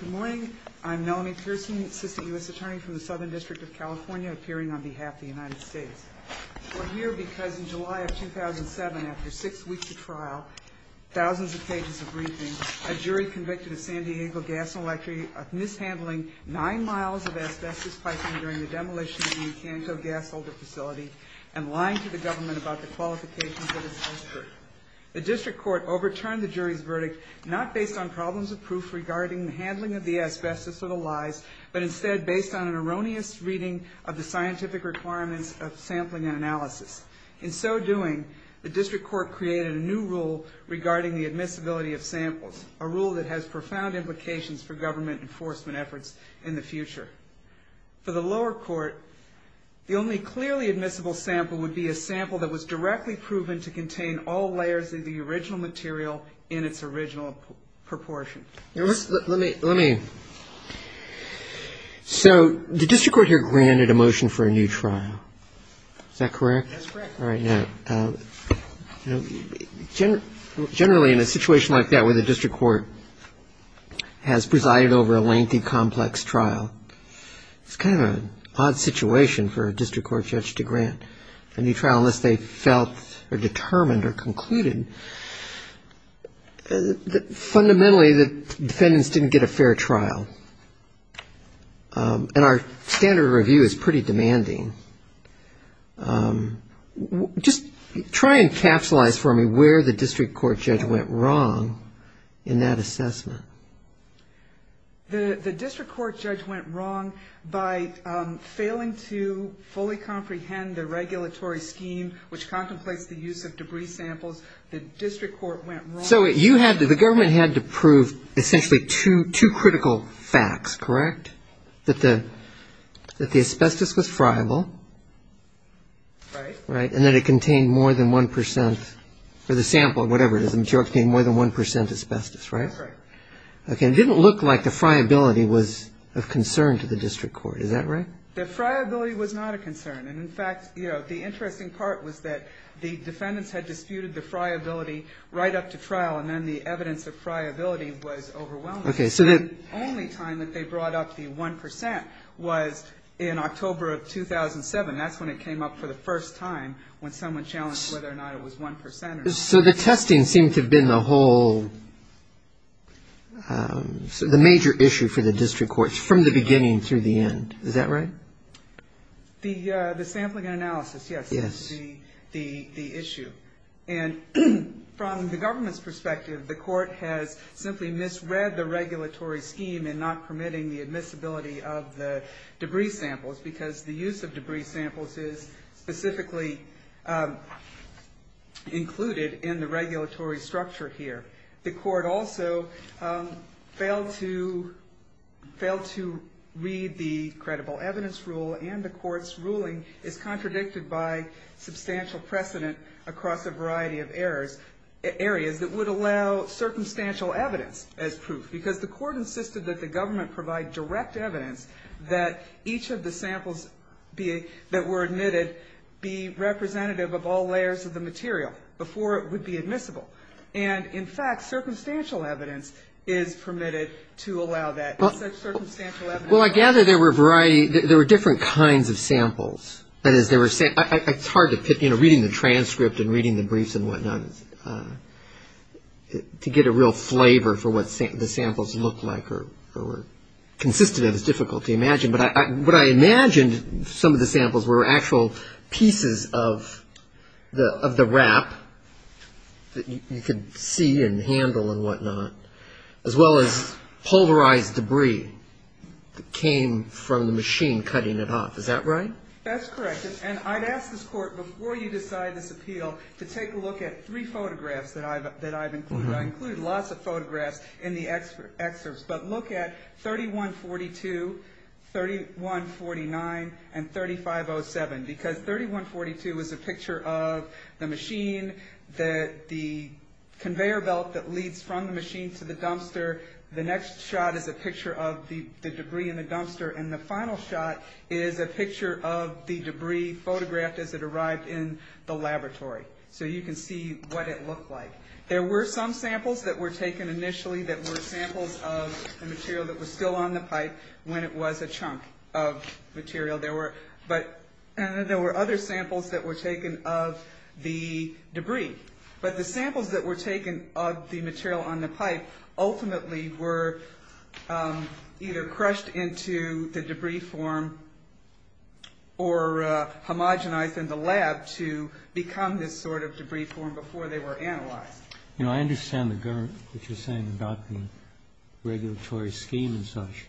Good morning. I'm Melanie Pearson, Assistant U.S. Attorney from the Southern District of California, appearing on behalf of the United States. We're here because in July of 2007, after six weeks of trial, thousands of pages of briefings, a jury convicted of San Diego Gas and Electric of mishandling nine miles of asbestos piping during the demolition of the Acanto Gas Holder facility and lying to the government about the qualifications of its expert. The district court overturned the jury's verdict, not based on problems of proof regarding the handling of the asbestos or the lies, but instead based on an erroneous reading of the scientific requirements of sampling and analysis. In so doing, the district court created a new rule regarding the admissibility of samples, a rule that has profound implications for government enforcement efforts in the future. For the lower court, the only clearly admissible sample would be a sample that was directly proven to contain all layers of the original material in its original proportion. Let me, let me. So the district court here granted a motion for a new trial. Is that correct? That's correct. All right. Now, generally in a situation like that where the district court has presided over a lengthy, complex trial, it's kind of an odd situation for a district court judge to grant a new trial unless they felt or determined or concluded. Fundamentally, the defendants didn't get a fair trial. And our standard of review is pretty demanding. Just try and capsulize for me where the district court judge went wrong in that assessment. The district court judge went wrong by failing to fully comprehend the regulatory scheme, which contemplates the use of debris samples. The district court went wrong. So you had, the government had to prove essentially two, two critical facts, correct? That the, that the asbestos was friable. Right. Right. And that it contained more than one percent for the sample, whatever it is, the material contained more than one percent asbestos, right? That's right. Okay. It didn't look like the friability was of concern to the district court. Is that right? The friability was not a concern. And in fact, you know, the interesting part was that the defendants had disputed the friability right up to trial, and then the evidence of friability was overwhelming. Okay. So that The only time that they brought up the one percent was in October of 2007. That's when it came up for the first time when someone challenged whether or not it was one percent or not. So the testing seemed to have been the whole, the major issue for the district courts from the beginning through the end. Is that right? The sampling and analysis, yes, is the issue. And from the government's perspective, the court has simply misread the regulatory scheme in not permitting the admissibility of the debris samples because the use of debris samples is specifically included in the regulatory structure here. The court also failed to read the credible evidence rule, and the court's ruling is contradicted by substantial precedent across a variety of areas that would allow circumstantial evidence as proof, because the court insisted that the government provide direct evidence that each of the samples that were admitted be representative of all layers of the material before it would be admissible. And, in fact, circumstantial evidence is permitted to allow that. Well, I gather there were a variety, there were different kinds of samples. That is, it's hard to pick, you know, reading the transcript and reading the briefs and whatnot, to get a real flavor for what the samples looked like or were consistent, it's difficult to imagine. But I imagined some of the samples were actual pieces of the wrap that you could see and handle and whatnot, as well as polarized debris that came from the machine cutting it off. Is that right? That's correct. And I'd ask this court, before you decide this appeal, to take a look at three photographs that I've included. I included lots of photographs in the excerpts, but look at 3142, 3149, and 3507, because 3142 is a picture of the machine, the conveyor belt that leads from the machine to the dumpster, the next shot is a picture of the debris in the dumpster, and the final shot is a picture of the debris photographed as it arrived in the laboratory. So you can see what it looked like. There were some samples that were taken initially that were samples of the material that was still on the pipe when it was a chunk of material. There were other samples that were taken of the debris. But the samples that were taken of the material on the pipe ultimately were either crushed into the debris form or homogenized in the lab to become this sort of debris form before they were analyzed. You know, I understand what you're saying about the regulatory scheme and such,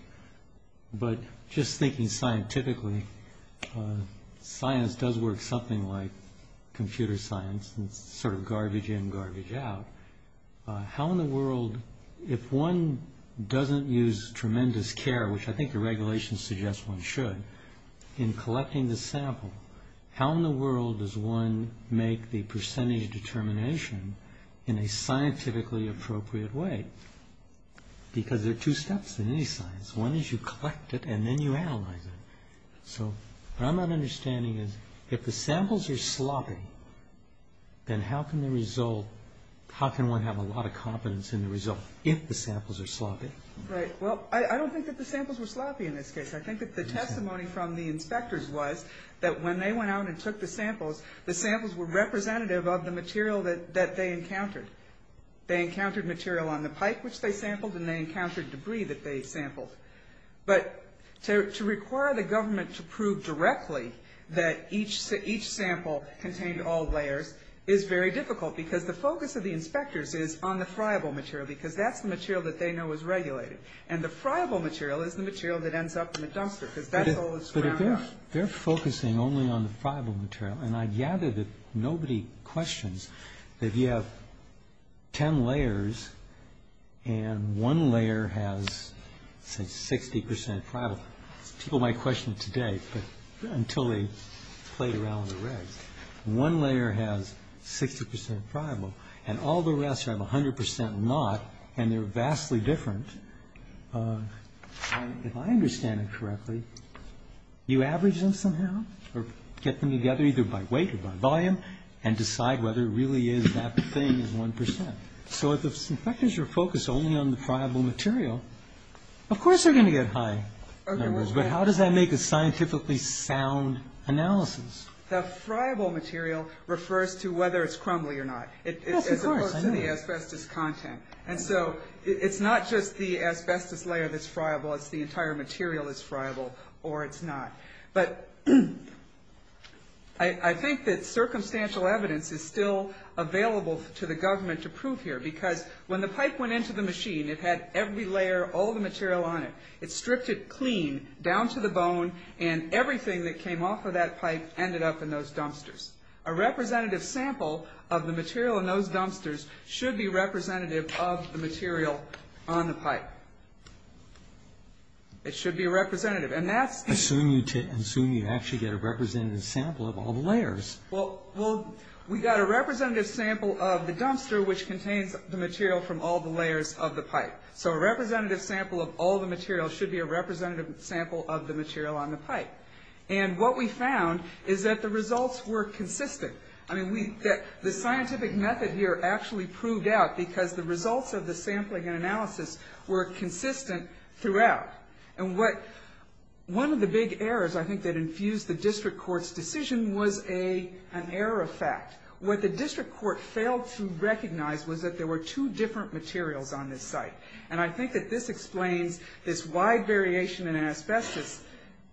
but just thinking scientifically, science does work something like computer science, sort of garbage in, garbage out. How in the world, if one doesn't use tremendous care, which I think the regulations suggest one should, in collecting the sample, how in the world does one make the percentage determination in a scientifically appropriate way? Because there are two steps in any science. One is you collect it and then you analyze it. So what I'm not understanding is, if the samples are sloppy, then how can one have a lot of confidence in the result if the samples are sloppy? Well, I don't think that the samples were sloppy in this case. I think that the testimony from the inspectors was that when they went out and took the samples, the samples were representative of the material that they encountered. They encountered material on the pipe, which they sampled, and they encountered debris that they sampled. But to require the government to prove directly that each sample contained all layers is very difficult because the focus of the inspectors is on the friable material because that's the material that they know is regulated. And the friable material is the material that ends up in the dumpster because that's all that's ground up. But if they're focusing only on the friable material, and I gather that nobody questions that you have ten layers and one layer has, say, 60% friable. People might question it today, but until they played around with the regs. One layer has 60% friable, and all the rest have 100% not, and they're vastly different. If I understand it correctly, you average them somehow or get them together either by weight or by volume and decide whether it really is that thing is 1%. So if the inspectors are focused only on the friable material, of course they're going to get high numbers, but how does that make a scientifically sound analysis? The friable material refers to whether it's crumbly or not. Yes, of course, I know. And so it's not just the asbestos layer that's friable. It's the entire material that's friable or it's not. But I think that circumstantial evidence is still available to the government to prove here because when the pipe went into the machine, it had every layer, all the material on it. It stripped it clean down to the bone, and everything that came off of that pipe ended up in those dumpsters. A representative sample of the material in those dumpsters should be representative of the material on the pipe. It should be representative, and that's… Assume you actually get a representative sample of all the layers. Well, we got a representative sample of the dumpster which contains the material from all the layers of the pipe. So a representative sample of all the material should be a representative sample of the material on the pipe. And what we found is that the results were consistent. I mean, the scientific method here actually proved out because the results of the sampling and analysis were consistent throughout. And one of the big errors, I think, that infused the district court's decision was an error of fact. What the district court failed to recognize was that there were two different materials on this site. And I think that this explains this wide variation in asbestos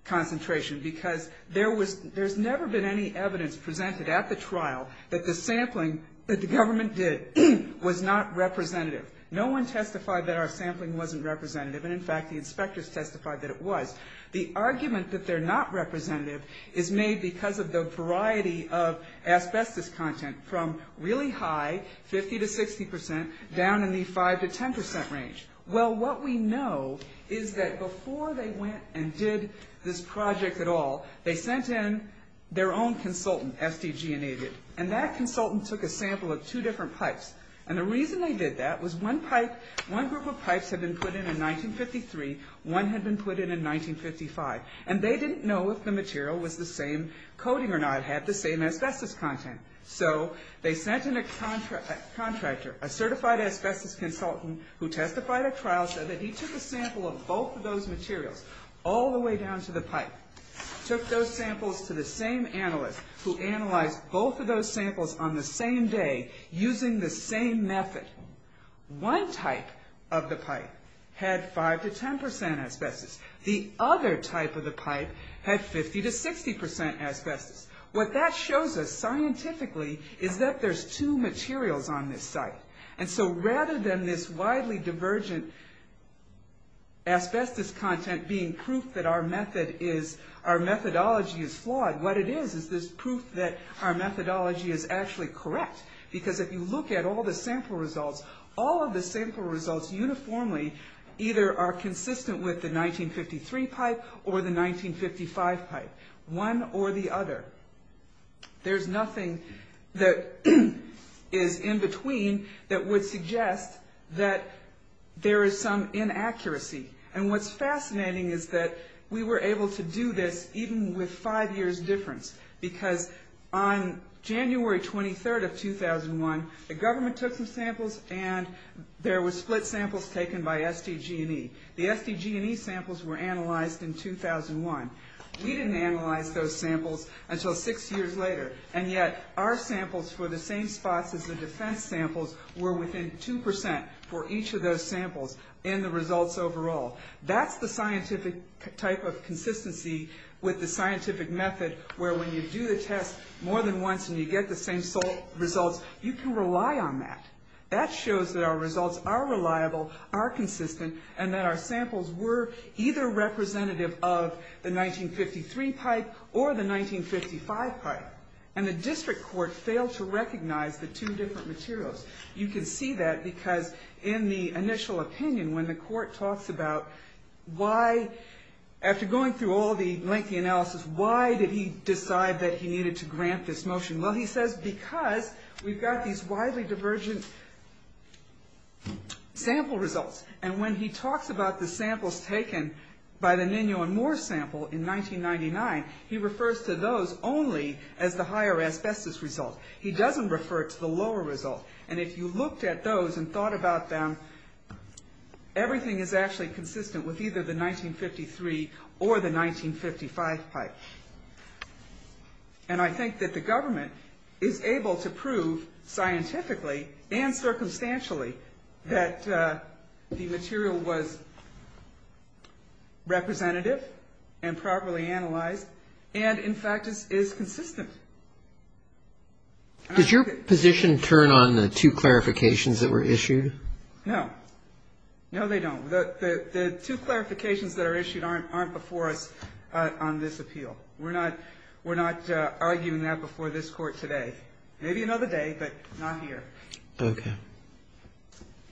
concentration, because there's never been any evidence presented at the trial that the sampling that the government did was not representative. No one testified that our sampling wasn't representative, and in fact, the inspectors testified that it was. The argument that they're not representative is made because of the variety of asbestos content from really high, 50 to 60 percent, down in the 5 to 10 percent range. Well, what we know is that before they went and did this project at all, they sent in their own consultant, SDG and AVID. And that consultant took a sample of two different pipes. And the reason they did that was one pipe, one group of pipes had been put in in 1953, one had been put in in 1955. And they didn't know if the material was the same coating or not, had the same asbestos content. So they sent in a contractor, a certified asbestos consultant, who testified at trial, said that he took a sample of both of those materials, all the way down to the pipe. Took those samples to the same analyst, who analyzed both of those samples on the same day, using the same method. One type of the pipe had 5 to 10 percent asbestos. The other type of the pipe had 50 to 60 percent asbestos. What that shows us, scientifically, is that there's two materials on this site. And so rather than this widely divergent asbestos content being proof that our method is, our methodology is flawed, what it is, is this proof that our methodology is actually correct. Because if you look at all the sample results, all of the sample results uniformly, either are consistent with the 1953 pipe or the 1955 pipe. One or the other. There's nothing that is in between that would suggest that there is some inaccuracy. And what's fascinating is that we were able to do this even with five years difference. Because on January 23rd of 2001, the government took some samples, and there were split samples taken by SDG&E. The SDG&E samples were analyzed in 2001. We didn't analyze those samples until six years later. And yet, our samples for the same spots as the defense samples were within 2 percent for each of those samples in the results overall. That's the scientific type of consistency with the scientific method, where when you do the test more than once and you get the same results, you can rely on that. That shows that our results are reliable, are consistent, and that our samples were either representative of the 1953 pipe or the 1955 pipe. And the district court failed to recognize the two different materials. You can see that because in the initial opinion, when the court talks about why, after going through all the lengthy analysis, why did he decide that he needed to grant this motion? Well, he says because we've got these widely divergent sample results. And when he talks about the samples taken by the Nino and Moore sample in 1999, he refers to those only as the higher asbestos result. He doesn't refer to the lower result. And if you looked at those and thought about them, everything is actually consistent with either the 1953 or the 1955 pipe. And I think that the government is able to prove scientifically and circumstantially that the material was representative and properly analyzed and, in fact, is consistent. And I think that the government is able to prove scientifically and circumstantially Does your position turn on the two clarifications that were issued? No. No, they don't. The two clarifications that are issued aren't before us on this appeal. We're not arguing that before this Court today. Maybe another day, but not here. Okay.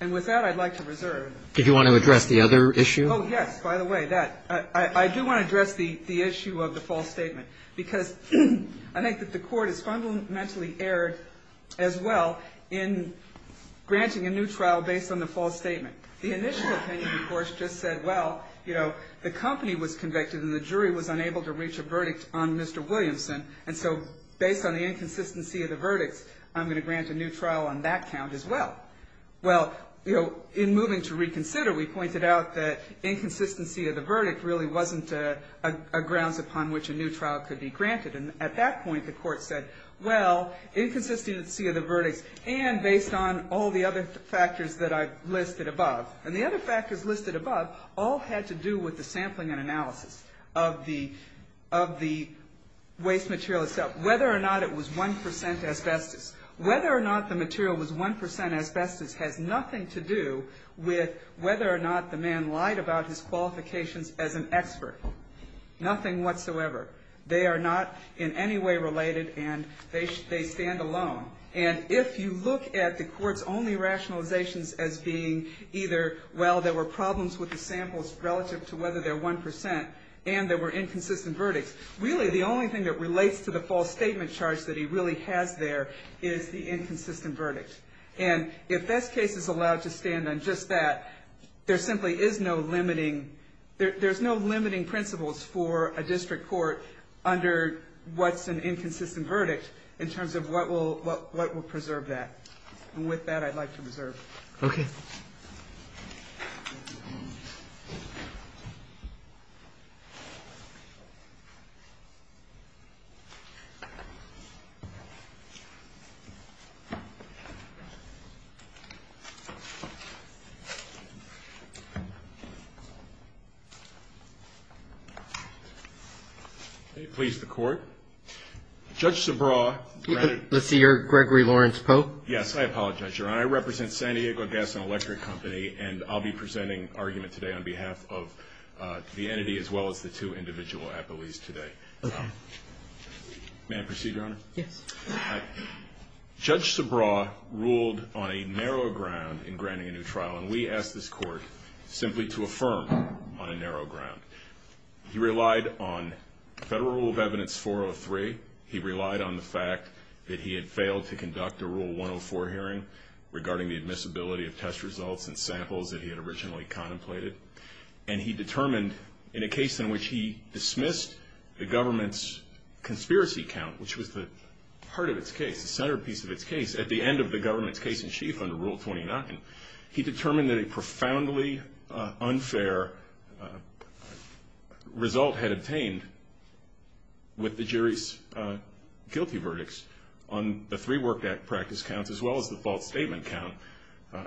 And with that, I'd like to reserve. Did you want to address the other issue? Oh, yes. By the way, that. I do want to address the issue of the false statement because I think that the Court has fundamentally erred as well in granting a new trial based on the false statement. The initial opinion, of course, just said, well, you know, the company was convicted and the jury was unable to reach a verdict on Mr. Williamson. And so based on the inconsistency of the verdicts, I'm going to grant a new trial on that count as well. Well, you know, in moving to reconsider, we pointed out that inconsistency of the verdict really wasn't a grounds upon which a new trial could be granted. And at that point, the Court said, well, inconsistency of the verdicts, and based on all the other factors that I've listed above, and the other factors listed above all had to do with the sampling and analysis of the waste material itself, whether or not it was 1% asbestos. Whether or not the material was 1% asbestos has nothing to do with whether or not the man lied about his qualifications as an expert, nothing whatsoever. They are not in any way related, and they stand alone. And if you look at the Court's only rationalizations as being either, well, there were problems with the samples relative to whether they're 1% and there were inconsistent verdicts, really the only thing that relates to the false statement charge that he really has there is the inconsistent verdict. And if this case is allowed to stand on just that, there simply is no limiting, there's no limiting principles for a district court under what's an inconsistent verdict in terms of what will preserve that. And with that, I'd like to reserve. Okay. Please, the Court. Judge Subraw. Let's see, you're Gregory Lawrence Pope? Yes, I apologize, Your Honor. I represent San Diego Gas and Electric Company, and I'll be presenting argument today on behalf of the entity as well as the two individual appellees today. Okay. May I proceed, Your Honor? Yes. Judge Subraw ruled on a narrow ground in granting a new trial, and we ask this Court simply to affirm on a narrow ground. He relied on Federal Rule of Evidence 403. He relied on the fact that he had failed to conduct a Rule 104 hearing regarding the admissibility of test results and samples that he had originally contemplated. And he determined in a case in which he dismissed the government's conspiracy count, which was the heart of its case, the centerpiece of its case, at the end of the government's case in chief under Rule 29, he determined that a profoundly unfair result had obtained with the jury's guilty verdicts on the three Work Act practice counts as well as the false statement count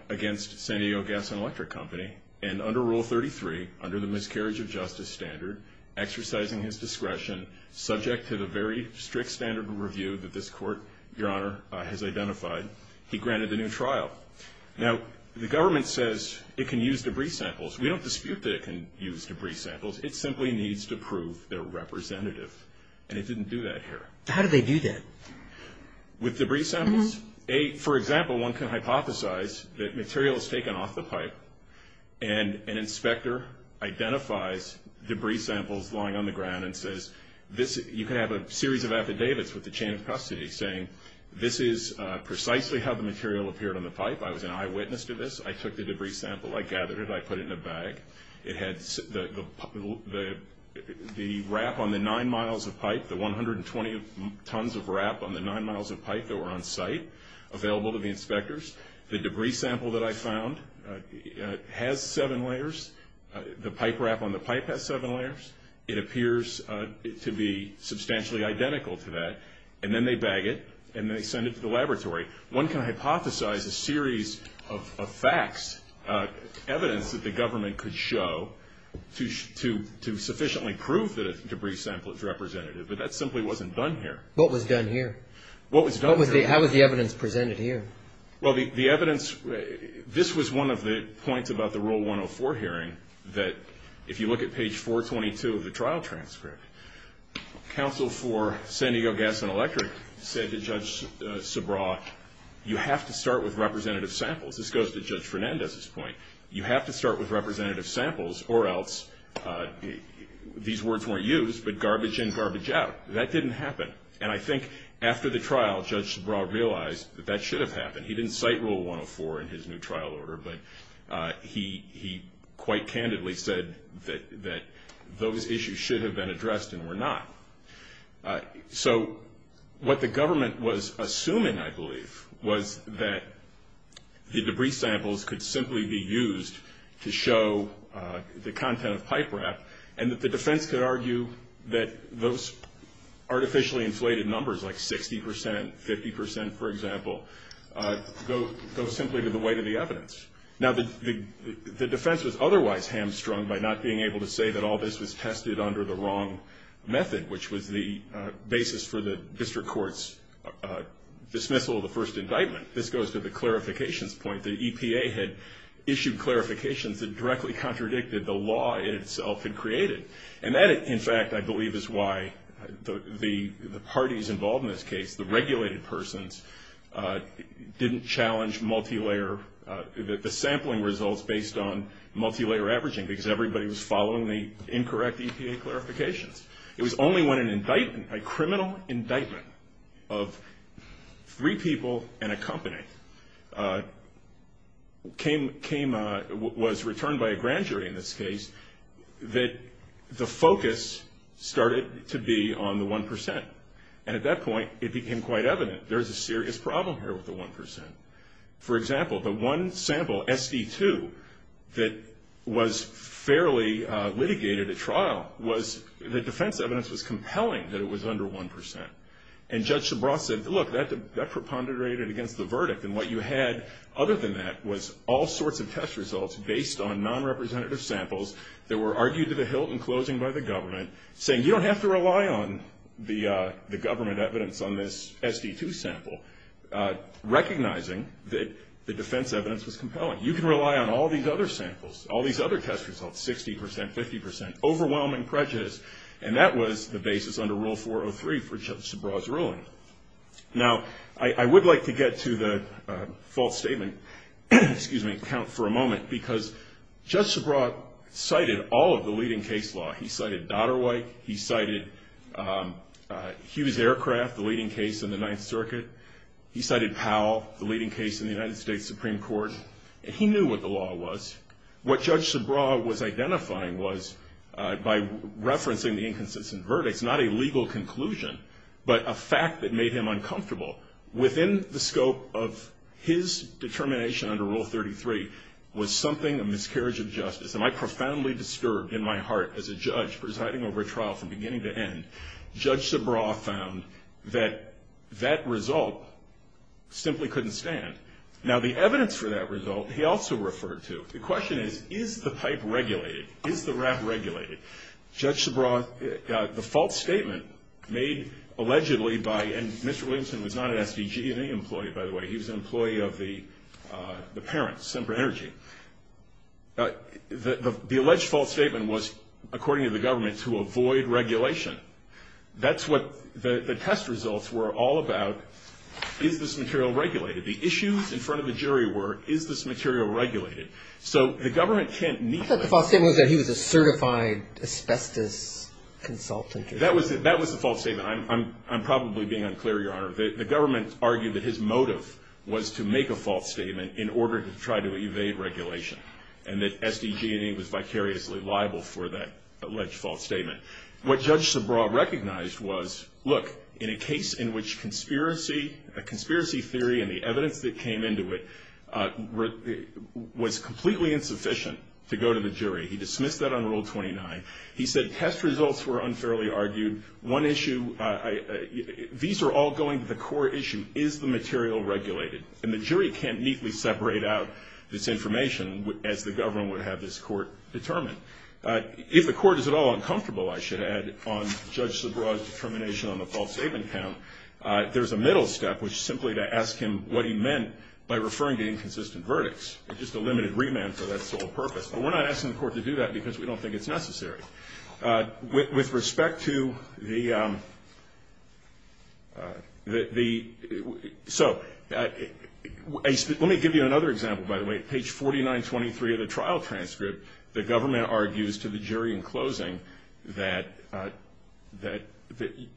against San Diego Gas and Electric Company. And under Rule 33, under the miscarriage of justice standard, exercising his discretion, subject to the very strict standard of review that this Court, Your Honor, has identified, he granted the new trial. Now, the government says it can use debris samples. We don't dispute that it can use debris samples. It simply needs to prove they're representative. And it didn't do that here. How did they do that? With debris samples. For example, one can hypothesize that material is taken off the pipe and an inspector identifies debris samples lying on the ground and says, you can have a series of affidavits with the chain of custody saying, this is precisely how the material appeared on the pipe. I was an eyewitness to this. I took the debris sample. I gathered it. I put it in a bag. It had the wrap on the nine miles of pipe, the 120 tons of wrap on the nine miles of pipe that were on site, available to the inspectors. The debris sample that I found has seven layers. The pipe wrap on the pipe has seven layers. It appears to be substantially identical to that. And then they bag it and they send it to the laboratory. One can hypothesize a series of facts, evidence that the government could show, to sufficiently prove that a debris sample is representative. But that simply wasn't done here. What was done here? What was done here? How was the evidence presented here? Well, the evidence, this was one of the points about the Rule 104 hearing, that if you look at page 422 of the trial transcript, counsel for San Diego Gas and Electric said to Judge Sabraw, you have to start with representative samples. This goes to Judge Fernandez's point. You have to start with representative samples or else these words weren't used, but garbage in, garbage out. That didn't happen. And I think after the trial, Judge Sabraw realized that that should have happened. He didn't cite Rule 104 in his new trial order, but he quite candidly said that those issues should have been addressed and were not. So what the government was assuming, I believe, was that the debris samples could simply be used to show the content of pipe wrap and that the defense could argue that those artificially inflated numbers, like 60 percent, 50 percent, for example, go simply to the weight of the evidence. Now, the defense was otherwise hamstrung by not being able to say that all this was tested under the wrong method, which was the basis for the district court's dismissal of the first indictment. This goes to the clarifications point. The EPA had issued clarifications that directly contradicted the law itself had created. And that, in fact, I believe is why the parties involved in this case, the regulated persons, didn't challenge the sampling results based on multilayer averaging because everybody was following the incorrect EPA clarifications. It was only when a criminal indictment of three people and a company was returned by a grand jury in this case that the focus started to be on the 1 percent. And at that point, it became quite evident there was a serious problem here with the 1 percent. For example, the one sample, SD2, that was fairly litigated at trial was, the defense evidence was compelling that it was under 1 percent. And Judge Sebrost said, look, that preponderated against the verdict. And what you had other than that was all sorts of test results based on non-representative samples that were argued to the hilt in closing by the government, saying you don't have to rely on the government evidence on this SD2 sample, recognizing that the defense evidence was compelling. You can rely on all these other samples, all these other test results, 60 percent, 50 percent, overwhelming prejudice. And that was the basis under Rule 403 for Judge Sebrost's ruling. Now, I would like to get to the false statement, excuse me, account for a moment, because Judge Sebrost cited all of the leading case law. He cited Dodderwhite. He cited Hughes Aircraft, the leading case in the Ninth Circuit. He cited Powell, the leading case in the United States Supreme Court. He knew what the law was. What Judge Sebrost was identifying was, by referencing the inconsistent verdict, it's not a legal conclusion, but a fact that made him uncomfortable. Within the scope of his determination under Rule 33 was something, a miscarriage of justice. And I profoundly disturbed in my heart as a judge presiding over a trial from beginning to end, Judge Sebrost found that that result simply couldn't stand. Now, the evidence for that result he also referred to. The question is, is the pipe regulated? Is the wrap regulated? Judge Sebrost, the false statement made allegedly by, and Mr. Williamson was not an SDG employee, by the way. He was an employee of the parents, Semper Energy. The alleged false statement was, according to the government, to avoid regulation. That's what the test results were all about. Is this material regulated? The issues in front of the jury were, is this material regulated? I thought the false statement was that he was a certified asbestos consultant. That was the false statement. I'm probably being unclear, Your Honor. The government argued that his motive was to make a false statement in order to try to evade regulation, and that SDG was vicariously liable for that alleged false statement. What Judge Sebrost recognized was, look, in a case in which a conspiracy theory and the evidence that came into it was completely insufficient to go to the jury, he dismissed that on Rule 29. He said test results were unfairly argued. One issue, these are all going to the core issue. Is the material regulated? And the jury can't neatly separate out this information as the government would have this court determine. If the court is at all uncomfortable, I should add, on Judge Sebrost's determination on the false statement count, there's a middle step, which is simply to ask him what he meant by referring to inconsistent verdicts. It's just a limited remand for that sole purpose. But we're not asking the court to do that because we don't think it's necessary. With respect to the, so let me give you another example, by the way. At page 4923 of the trial transcript, the government argues to the jury in closing that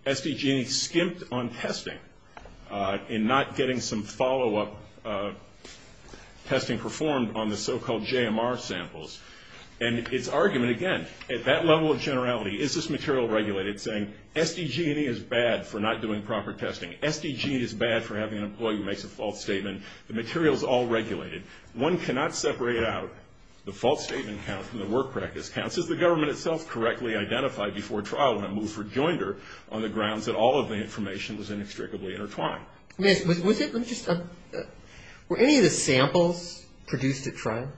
SDG&E skimped on testing in not getting some follow-up testing performed on the so-called JMR samples. And its argument, again, at that level of generality, is this material regulated, saying SDG&E is bad for not doing proper testing. SDG&E is bad for having an employee who makes a false statement. The material is all regulated. One cannot separate out the false statement count from the work practice counts, as the government itself correctly identified before trial when it moved for joinder, on the grounds that all of the information was inextricably intertwined. Miss, was it, let me just, were any of the samples produced at trial?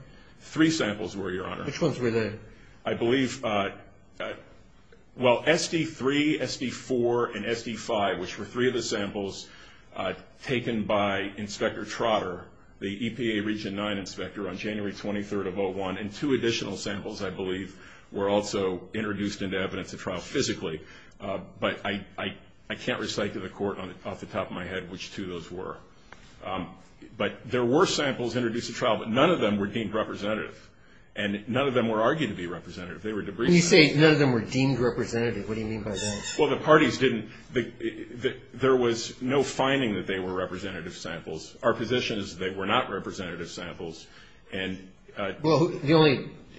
Three samples were, Your Honor. Which ones were they? I believe, well, SD3, SD4, and SD5, which were three of the samples taken by Inspector Trotter, the EPA Region 9 inspector on January 23rd of 2001, and two additional samples, I believe, were also introduced into evidence at trial physically. But I can't recite to the Court off the top of my head which two those were. But there were samples introduced at trial, but none of them were deemed representative. And none of them were argued to be representative. They were debriefed. When you say none of them were deemed representative, what do you mean by that? Well, the parties didn't, there was no finding that they were representative samples. Our position is that they were not representative samples. Well,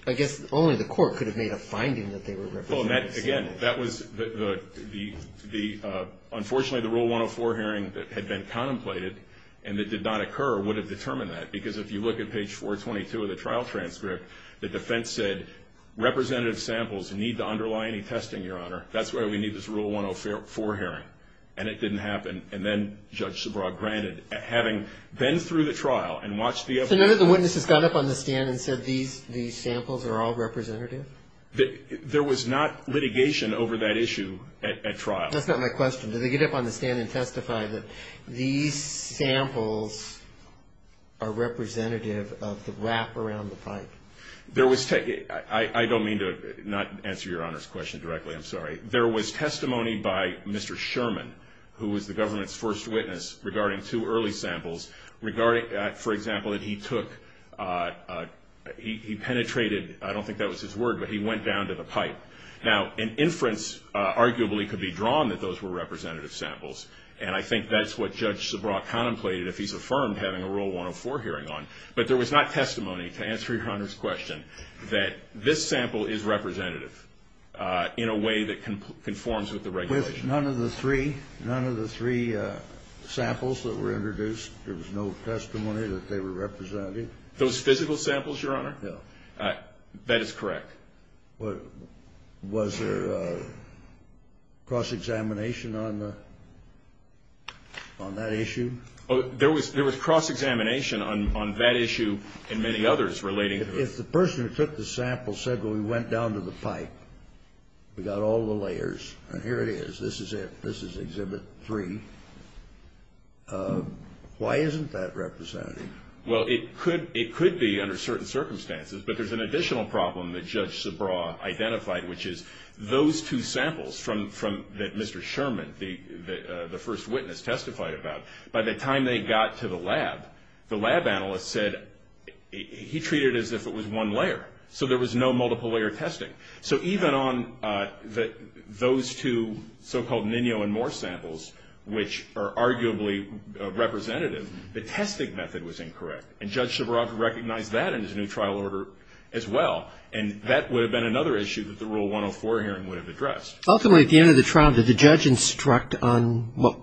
I guess only the Court could have made a finding that they were representative samples. Again, that was the, unfortunately, the Rule 104 hearing had been contemplated and it did not occur or would have determined that. Because if you look at page 422 of the trial transcript, the defense said representative samples need to underlie any testing, Your Honor. That's why we need this Rule 104 hearing. And it didn't happen. And then Judge Subraw granted. Having been through the trial and watched the evidence. So none of the witnesses got up on the stand and said these samples are all representative? There was not litigation over that issue at trial. That's not my question. Did they get up on the stand and testify that these samples are representative of the wrap around the pipe? I don't mean to not answer Your Honor's question directly. I'm sorry. There was testimony by Mr. Sherman, who was the government's first witness, regarding two early samples, regarding, for example, that he took, he penetrated, I don't think that was his word, but he went down to the pipe. Now, an inference arguably could be drawn that those were representative samples. And I think that's what Judge Subraw contemplated if he's affirmed having a Rule 104 hearing on. But there was not testimony, to answer Your Honor's question, that this sample is representative in a way that conforms with the regulation. With none of the three? None of the three samples that were introduced? There was no testimony that they were representative? Those physical samples, Your Honor? No. That is correct. Was there cross-examination on that issue? There was cross-examination on that issue and many others relating to it. If the person who took the sample said, well, he went down to the pipe, we got all the layers, and here it is. This is it. This is Exhibit 3. Why isn't that representative? Well, it could be under certain circumstances, but there's an additional problem that Judge Subraw identified, which is those two samples that Mr. Sherman, the first witness, testified about, by the time they got to the lab, the lab analyst said he treated it as if it was one layer. So there was no multiple-layer testing. So even on those two so-called Ninho and Moore samples, which are arguably representative, the testing method was incorrect. And Judge Subraw recognized that in his new trial order as well, and that would have been another issue that the Rule 104 hearing would have addressed. Ultimately, at the end of the trial, did the judge instruct on what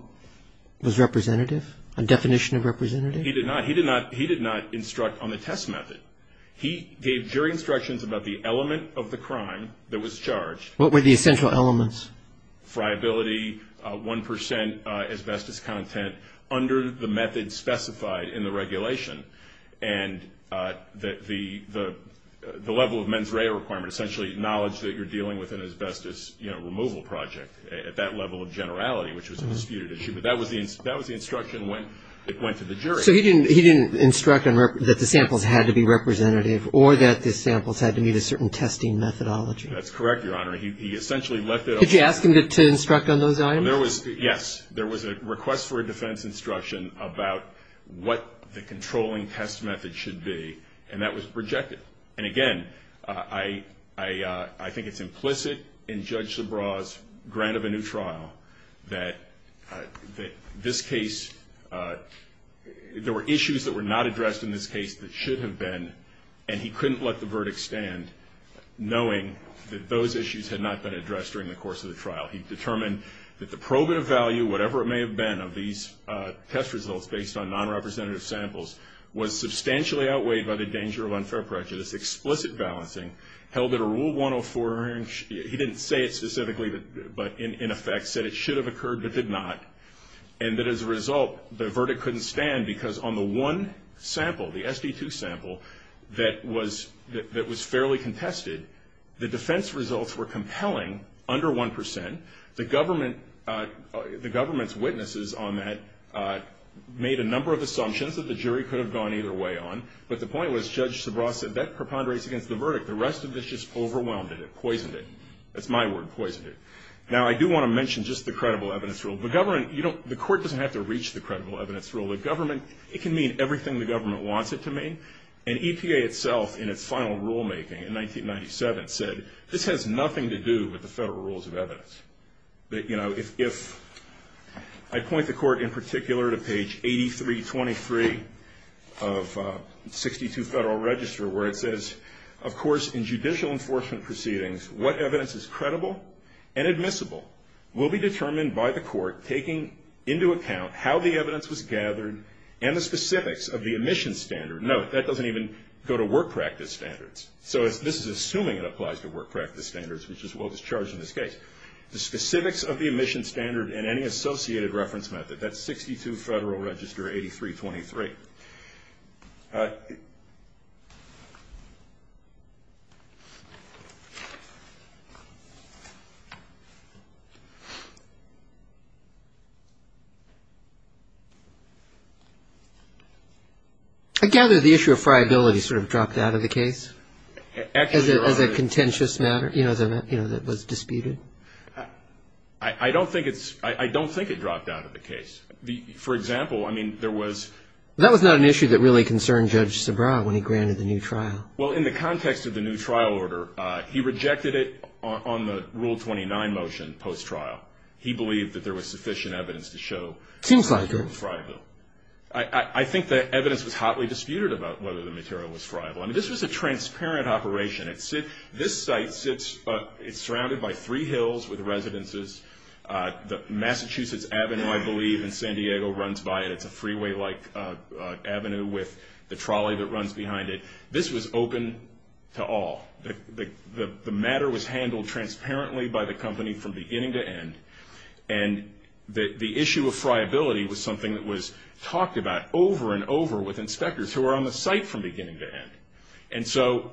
was representative, a definition of representative? He did not. He did not instruct on the test method. He gave jury instructions about the element of the crime that was charged. What were the essential elements? Friability, 1% asbestos content, under the method specified in the regulation, and the level of mens rea requirement, essentially knowledge that you're dealing with an asbestos removal project, at that level of generality, which was a disputed issue. But that was the instruction that went to the jury. So he didn't instruct that the samples had to be representative or that the samples had to meet a certain testing methodology. That's correct, Your Honor. He essentially left it up to the jury. Could you ask him to instruct on those items? Yes. There was a request for a defense instruction about what the controlling test method should be, and that was rejected. And, again, I think it's implicit in Judge Subraw's grant of a new trial that this case, there were issues that were not addressed in this case that should have been, and he couldn't let the verdict stand, knowing that those issues had not been addressed during the course of the trial. He determined that the probative value, whatever it may have been, of these test results based on non-representative samples, was substantially outweighed by the danger of unfair prejudice. Explicit balancing held that a Rule 104, he didn't say it specifically, but in effect, said it should have occurred but did not, and that as a result, the verdict couldn't stand because on the one sample, the SD2 sample, that was fairly contested, the defense results were compelling under 1%. The government's witnesses on that made a number of assumptions that the jury could have gone either way on, but the point was Judge Subraw said that preponderates against the verdict. The rest of this just overwhelmed it. It poisoned it. That's my word, poisoned it. Now, I do want to mention just the credible evidence rule. The government, you don't, the court doesn't have to reach the credible evidence rule. The government, it can mean everything the government wants it to mean, and EPA itself in its final rulemaking in 1997 said, this has nothing to do with the federal rules of evidence. That, you know, if I point the court in particular to page 8323 of 62 Federal Register, where it says, of course, in judicial enforcement proceedings, what evidence is credible and admissible will be determined by the court, taking into account how the evidence was gathered and the specifics of the emission standard. Note, that doesn't even go to work practice standards. So this is assuming it applies to work practice standards, which is what was charged in this case. The specifics of the emission standard and any associated reference method, that's 62 Federal Register 8323. I gather the issue of friability sort of dropped out of the case as a contentious matter, you know, that was disputed. I don't think it's, I don't think it dropped out of the case. For example, I mean, there was. That was not an issue that really concerned Judge Sabra when he granted the new trial. Well, in the context of the new trial order, he rejected it on the Rule 29 motion post-trial. He believed that there was sufficient evidence to show. Seems like it. I think the evidence was hotly disputed about whether the material was friable. I mean, this was a transparent operation. This site sits, it's surrounded by three hills with residences. The Massachusetts Avenue, I believe, in San Diego runs by it. It's a freeway-like avenue with the trolley that runs behind it. This was open to all. The matter was handled transparently by the company from beginning to end. And the issue of friability was something that was talked about over and over with inspectors who were on the site from beginning to end. And so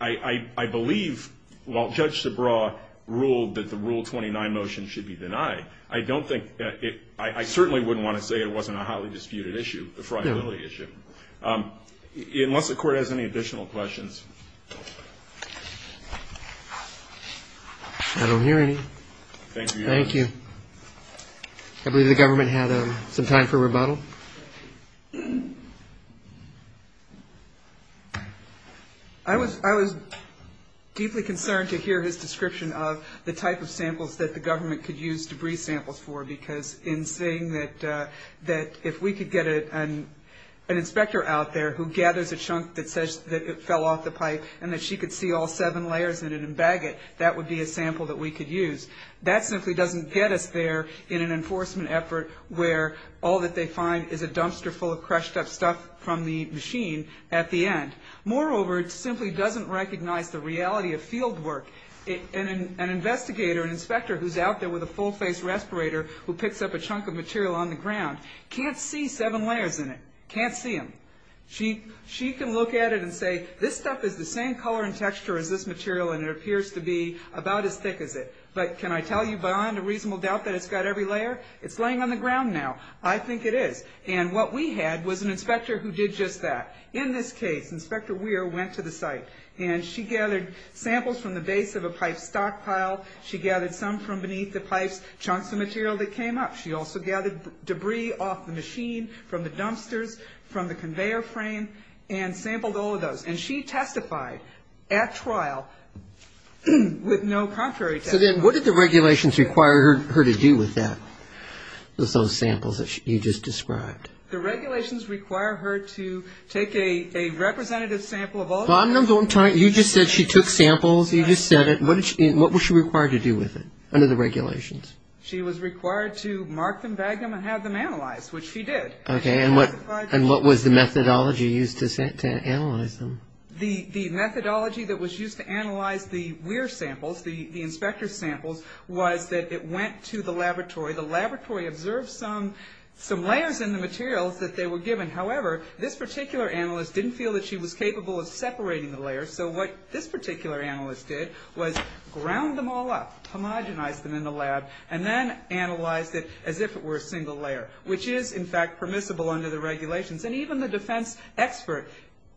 I believe while Judge Sabra ruled that the Rule 29 motion should be denied, I don't think it – I certainly wouldn't want to say it wasn't a hotly disputed issue, a friability issue. Unless the Court has any additional questions. I don't hear any. Thank you. Thank you. I believe the government had some time for rebuttal. Thank you. I was deeply concerned to hear his description of the type of samples that the government could use debris samples for because in saying that if we could get an inspector out there who gathers a chunk that says that it fell off the pipe and that she could see all seven layers in it and bag it, that would be a sample that we could use. That simply doesn't get us there in an enforcement effort where all that they find is a dumpster full of crushed up stuff from the machine at the end. Moreover, it simply doesn't recognize the reality of field work. An investigator, an inspector who's out there with a full-face respirator who picks up a chunk of material on the ground can't see seven layers in it, can't see them. She can look at it and say this stuff is the same color and texture as this material and it appears to be about as thick as it. But can I tell you beyond a reasonable doubt that it's got every layer? It's laying on the ground now. I think it is. And what we had was an inspector who did just that. In this case, Inspector Weir went to the site and she gathered samples from the base of a pipe stockpile. She gathered some from beneath the pipes, chunks of material that came up. She also gathered debris off the machine, from the dumpsters, from the conveyor frame, and sampled all of those. And she testified at trial with no contrary testimony. So then what did the regulations require her to do with that, with those samples that you just described? The regulations require her to take a representative sample of all of them. You just said she took samples. You just said it. What was she required to do with it under the regulations? She was required to mark them, bag them, and have them analyzed, which she did. Okay. And what was the methodology used to analyze them? The methodology that was used to analyze the Weir samples, the inspector's samples, was that it went to the laboratory. The laboratory observed some layers in the materials that they were given. However, this particular analyst didn't feel that she was capable of separating the layers. So what this particular analyst did was ground them all up, homogenized them in the lab, and then analyzed it as if it were a single layer, which is, in fact, permissible under the regulations. And even the defense expert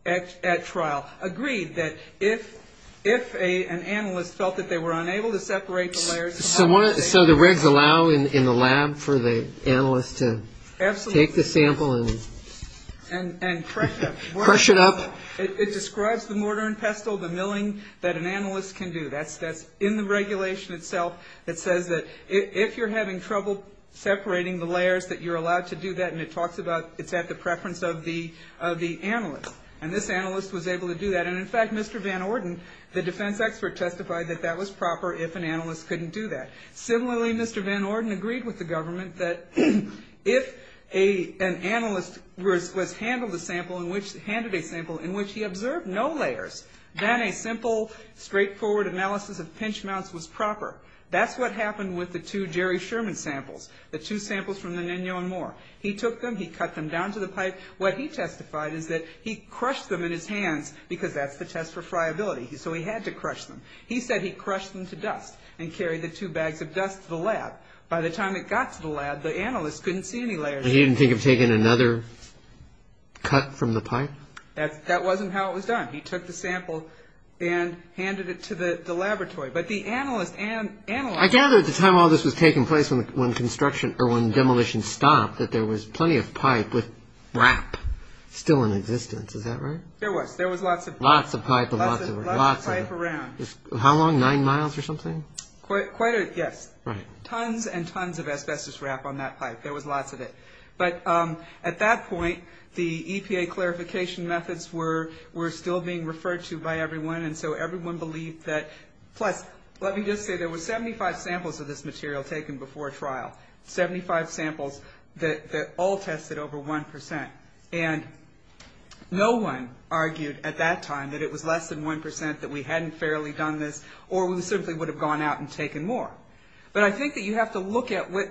at trial agreed that if an analyst felt that they were unable to separate the layers. So the regs allow in the lab for the analyst to take the sample and crush it up? It describes the mortar and pestle, the milling that an analyst can do. That's in the regulation itself. It says that if you're having trouble separating the layers, that you're allowed to do that. And it talks about it's at the preference of the analyst. And this analyst was able to do that. And, in fact, Mr. Van Orden, the defense expert, testified that that was proper if an analyst couldn't do that. Similarly, Mr. Van Orden agreed with the government that if an analyst was handed a sample in which he observed no layers, then a simple, straightforward analysis of pinch mounts was proper. That's what happened with the two Jerry Sherman samples, the two samples from the Ninho and Moore. He took them. He cut them down to the pipe. What he testified is that he crushed them in his hands because that's the test for friability. So he had to crush them. He said he crushed them to dust and carried the two bags of dust to the lab. By the time it got to the lab, the analyst couldn't see any layers. He didn't think of taking another cut from the pipe? That wasn't how it was done. He took the sample and handed it to the laboratory. But the analyst and the analyst... I gather at the time all this was taking place, when construction or when demolition stopped, that there was plenty of pipe with wrap still in existence. Is that right? There was. There was lots of... Lots of pipe and lots of wrap. Lots of pipe around. How long? Nine miles or something? Quite a... Yes. Right. Tons and tons of asbestos wrap on that pipe. There was lots of it. But at that point, the EPA clarification methods were still being referred to by everyone, and so everyone believed that... Plus, let me just say, there were 75 samples of this material taken before trial. Seventy-five samples that all tested over 1%. And no one argued at that time that it was less than 1% that we hadn't fairly done this or we simply would have gone out and taken more. But I think that you have to look at what...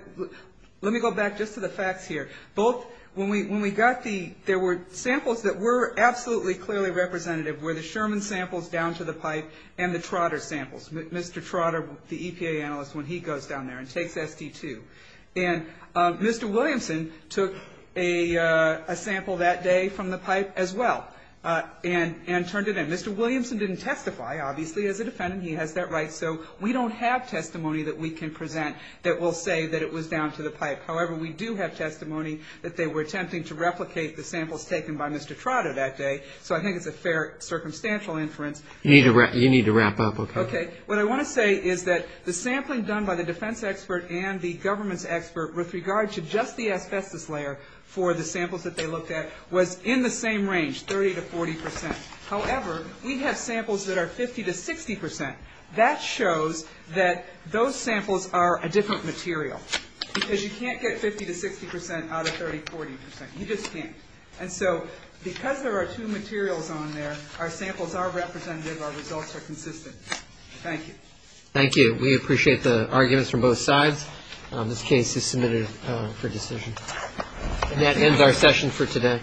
Let me go back just to the facts here. Both... When we got the... There were samples that were absolutely clearly representative, were the Sherman samples down to the pipe and the Trotter samples. Mr. Trotter, the EPA analyst, when he goes down there and takes SD2. And Mr. Williamson took a sample that day from the pipe as well and turned it in. Mr. Williamson didn't testify, obviously, as a defendant. He has that right. So we don't have testimony that we can present that will say that it was down to the pipe. However, we do have testimony that they were attempting to replicate the samples taken by Mr. Trotter that day. So I think it's a fair circumstantial inference. You need to wrap up, okay? Okay. What I want to say is that the sampling done by the defense expert and the government's expert with regard to just the asbestos layer for the samples that they looked at was in the same range, 30 to 40%. However, we have samples that are 50 to 60%. That shows that those samples are a different material because you can't get 50 to 60% out of 30, 40%. You just can't. And so because there are two materials on there, our samples are representative, our results are consistent. Thank you. Thank you. We appreciate the arguments from both sides. This case is submitted for decision. And that ends our session for today.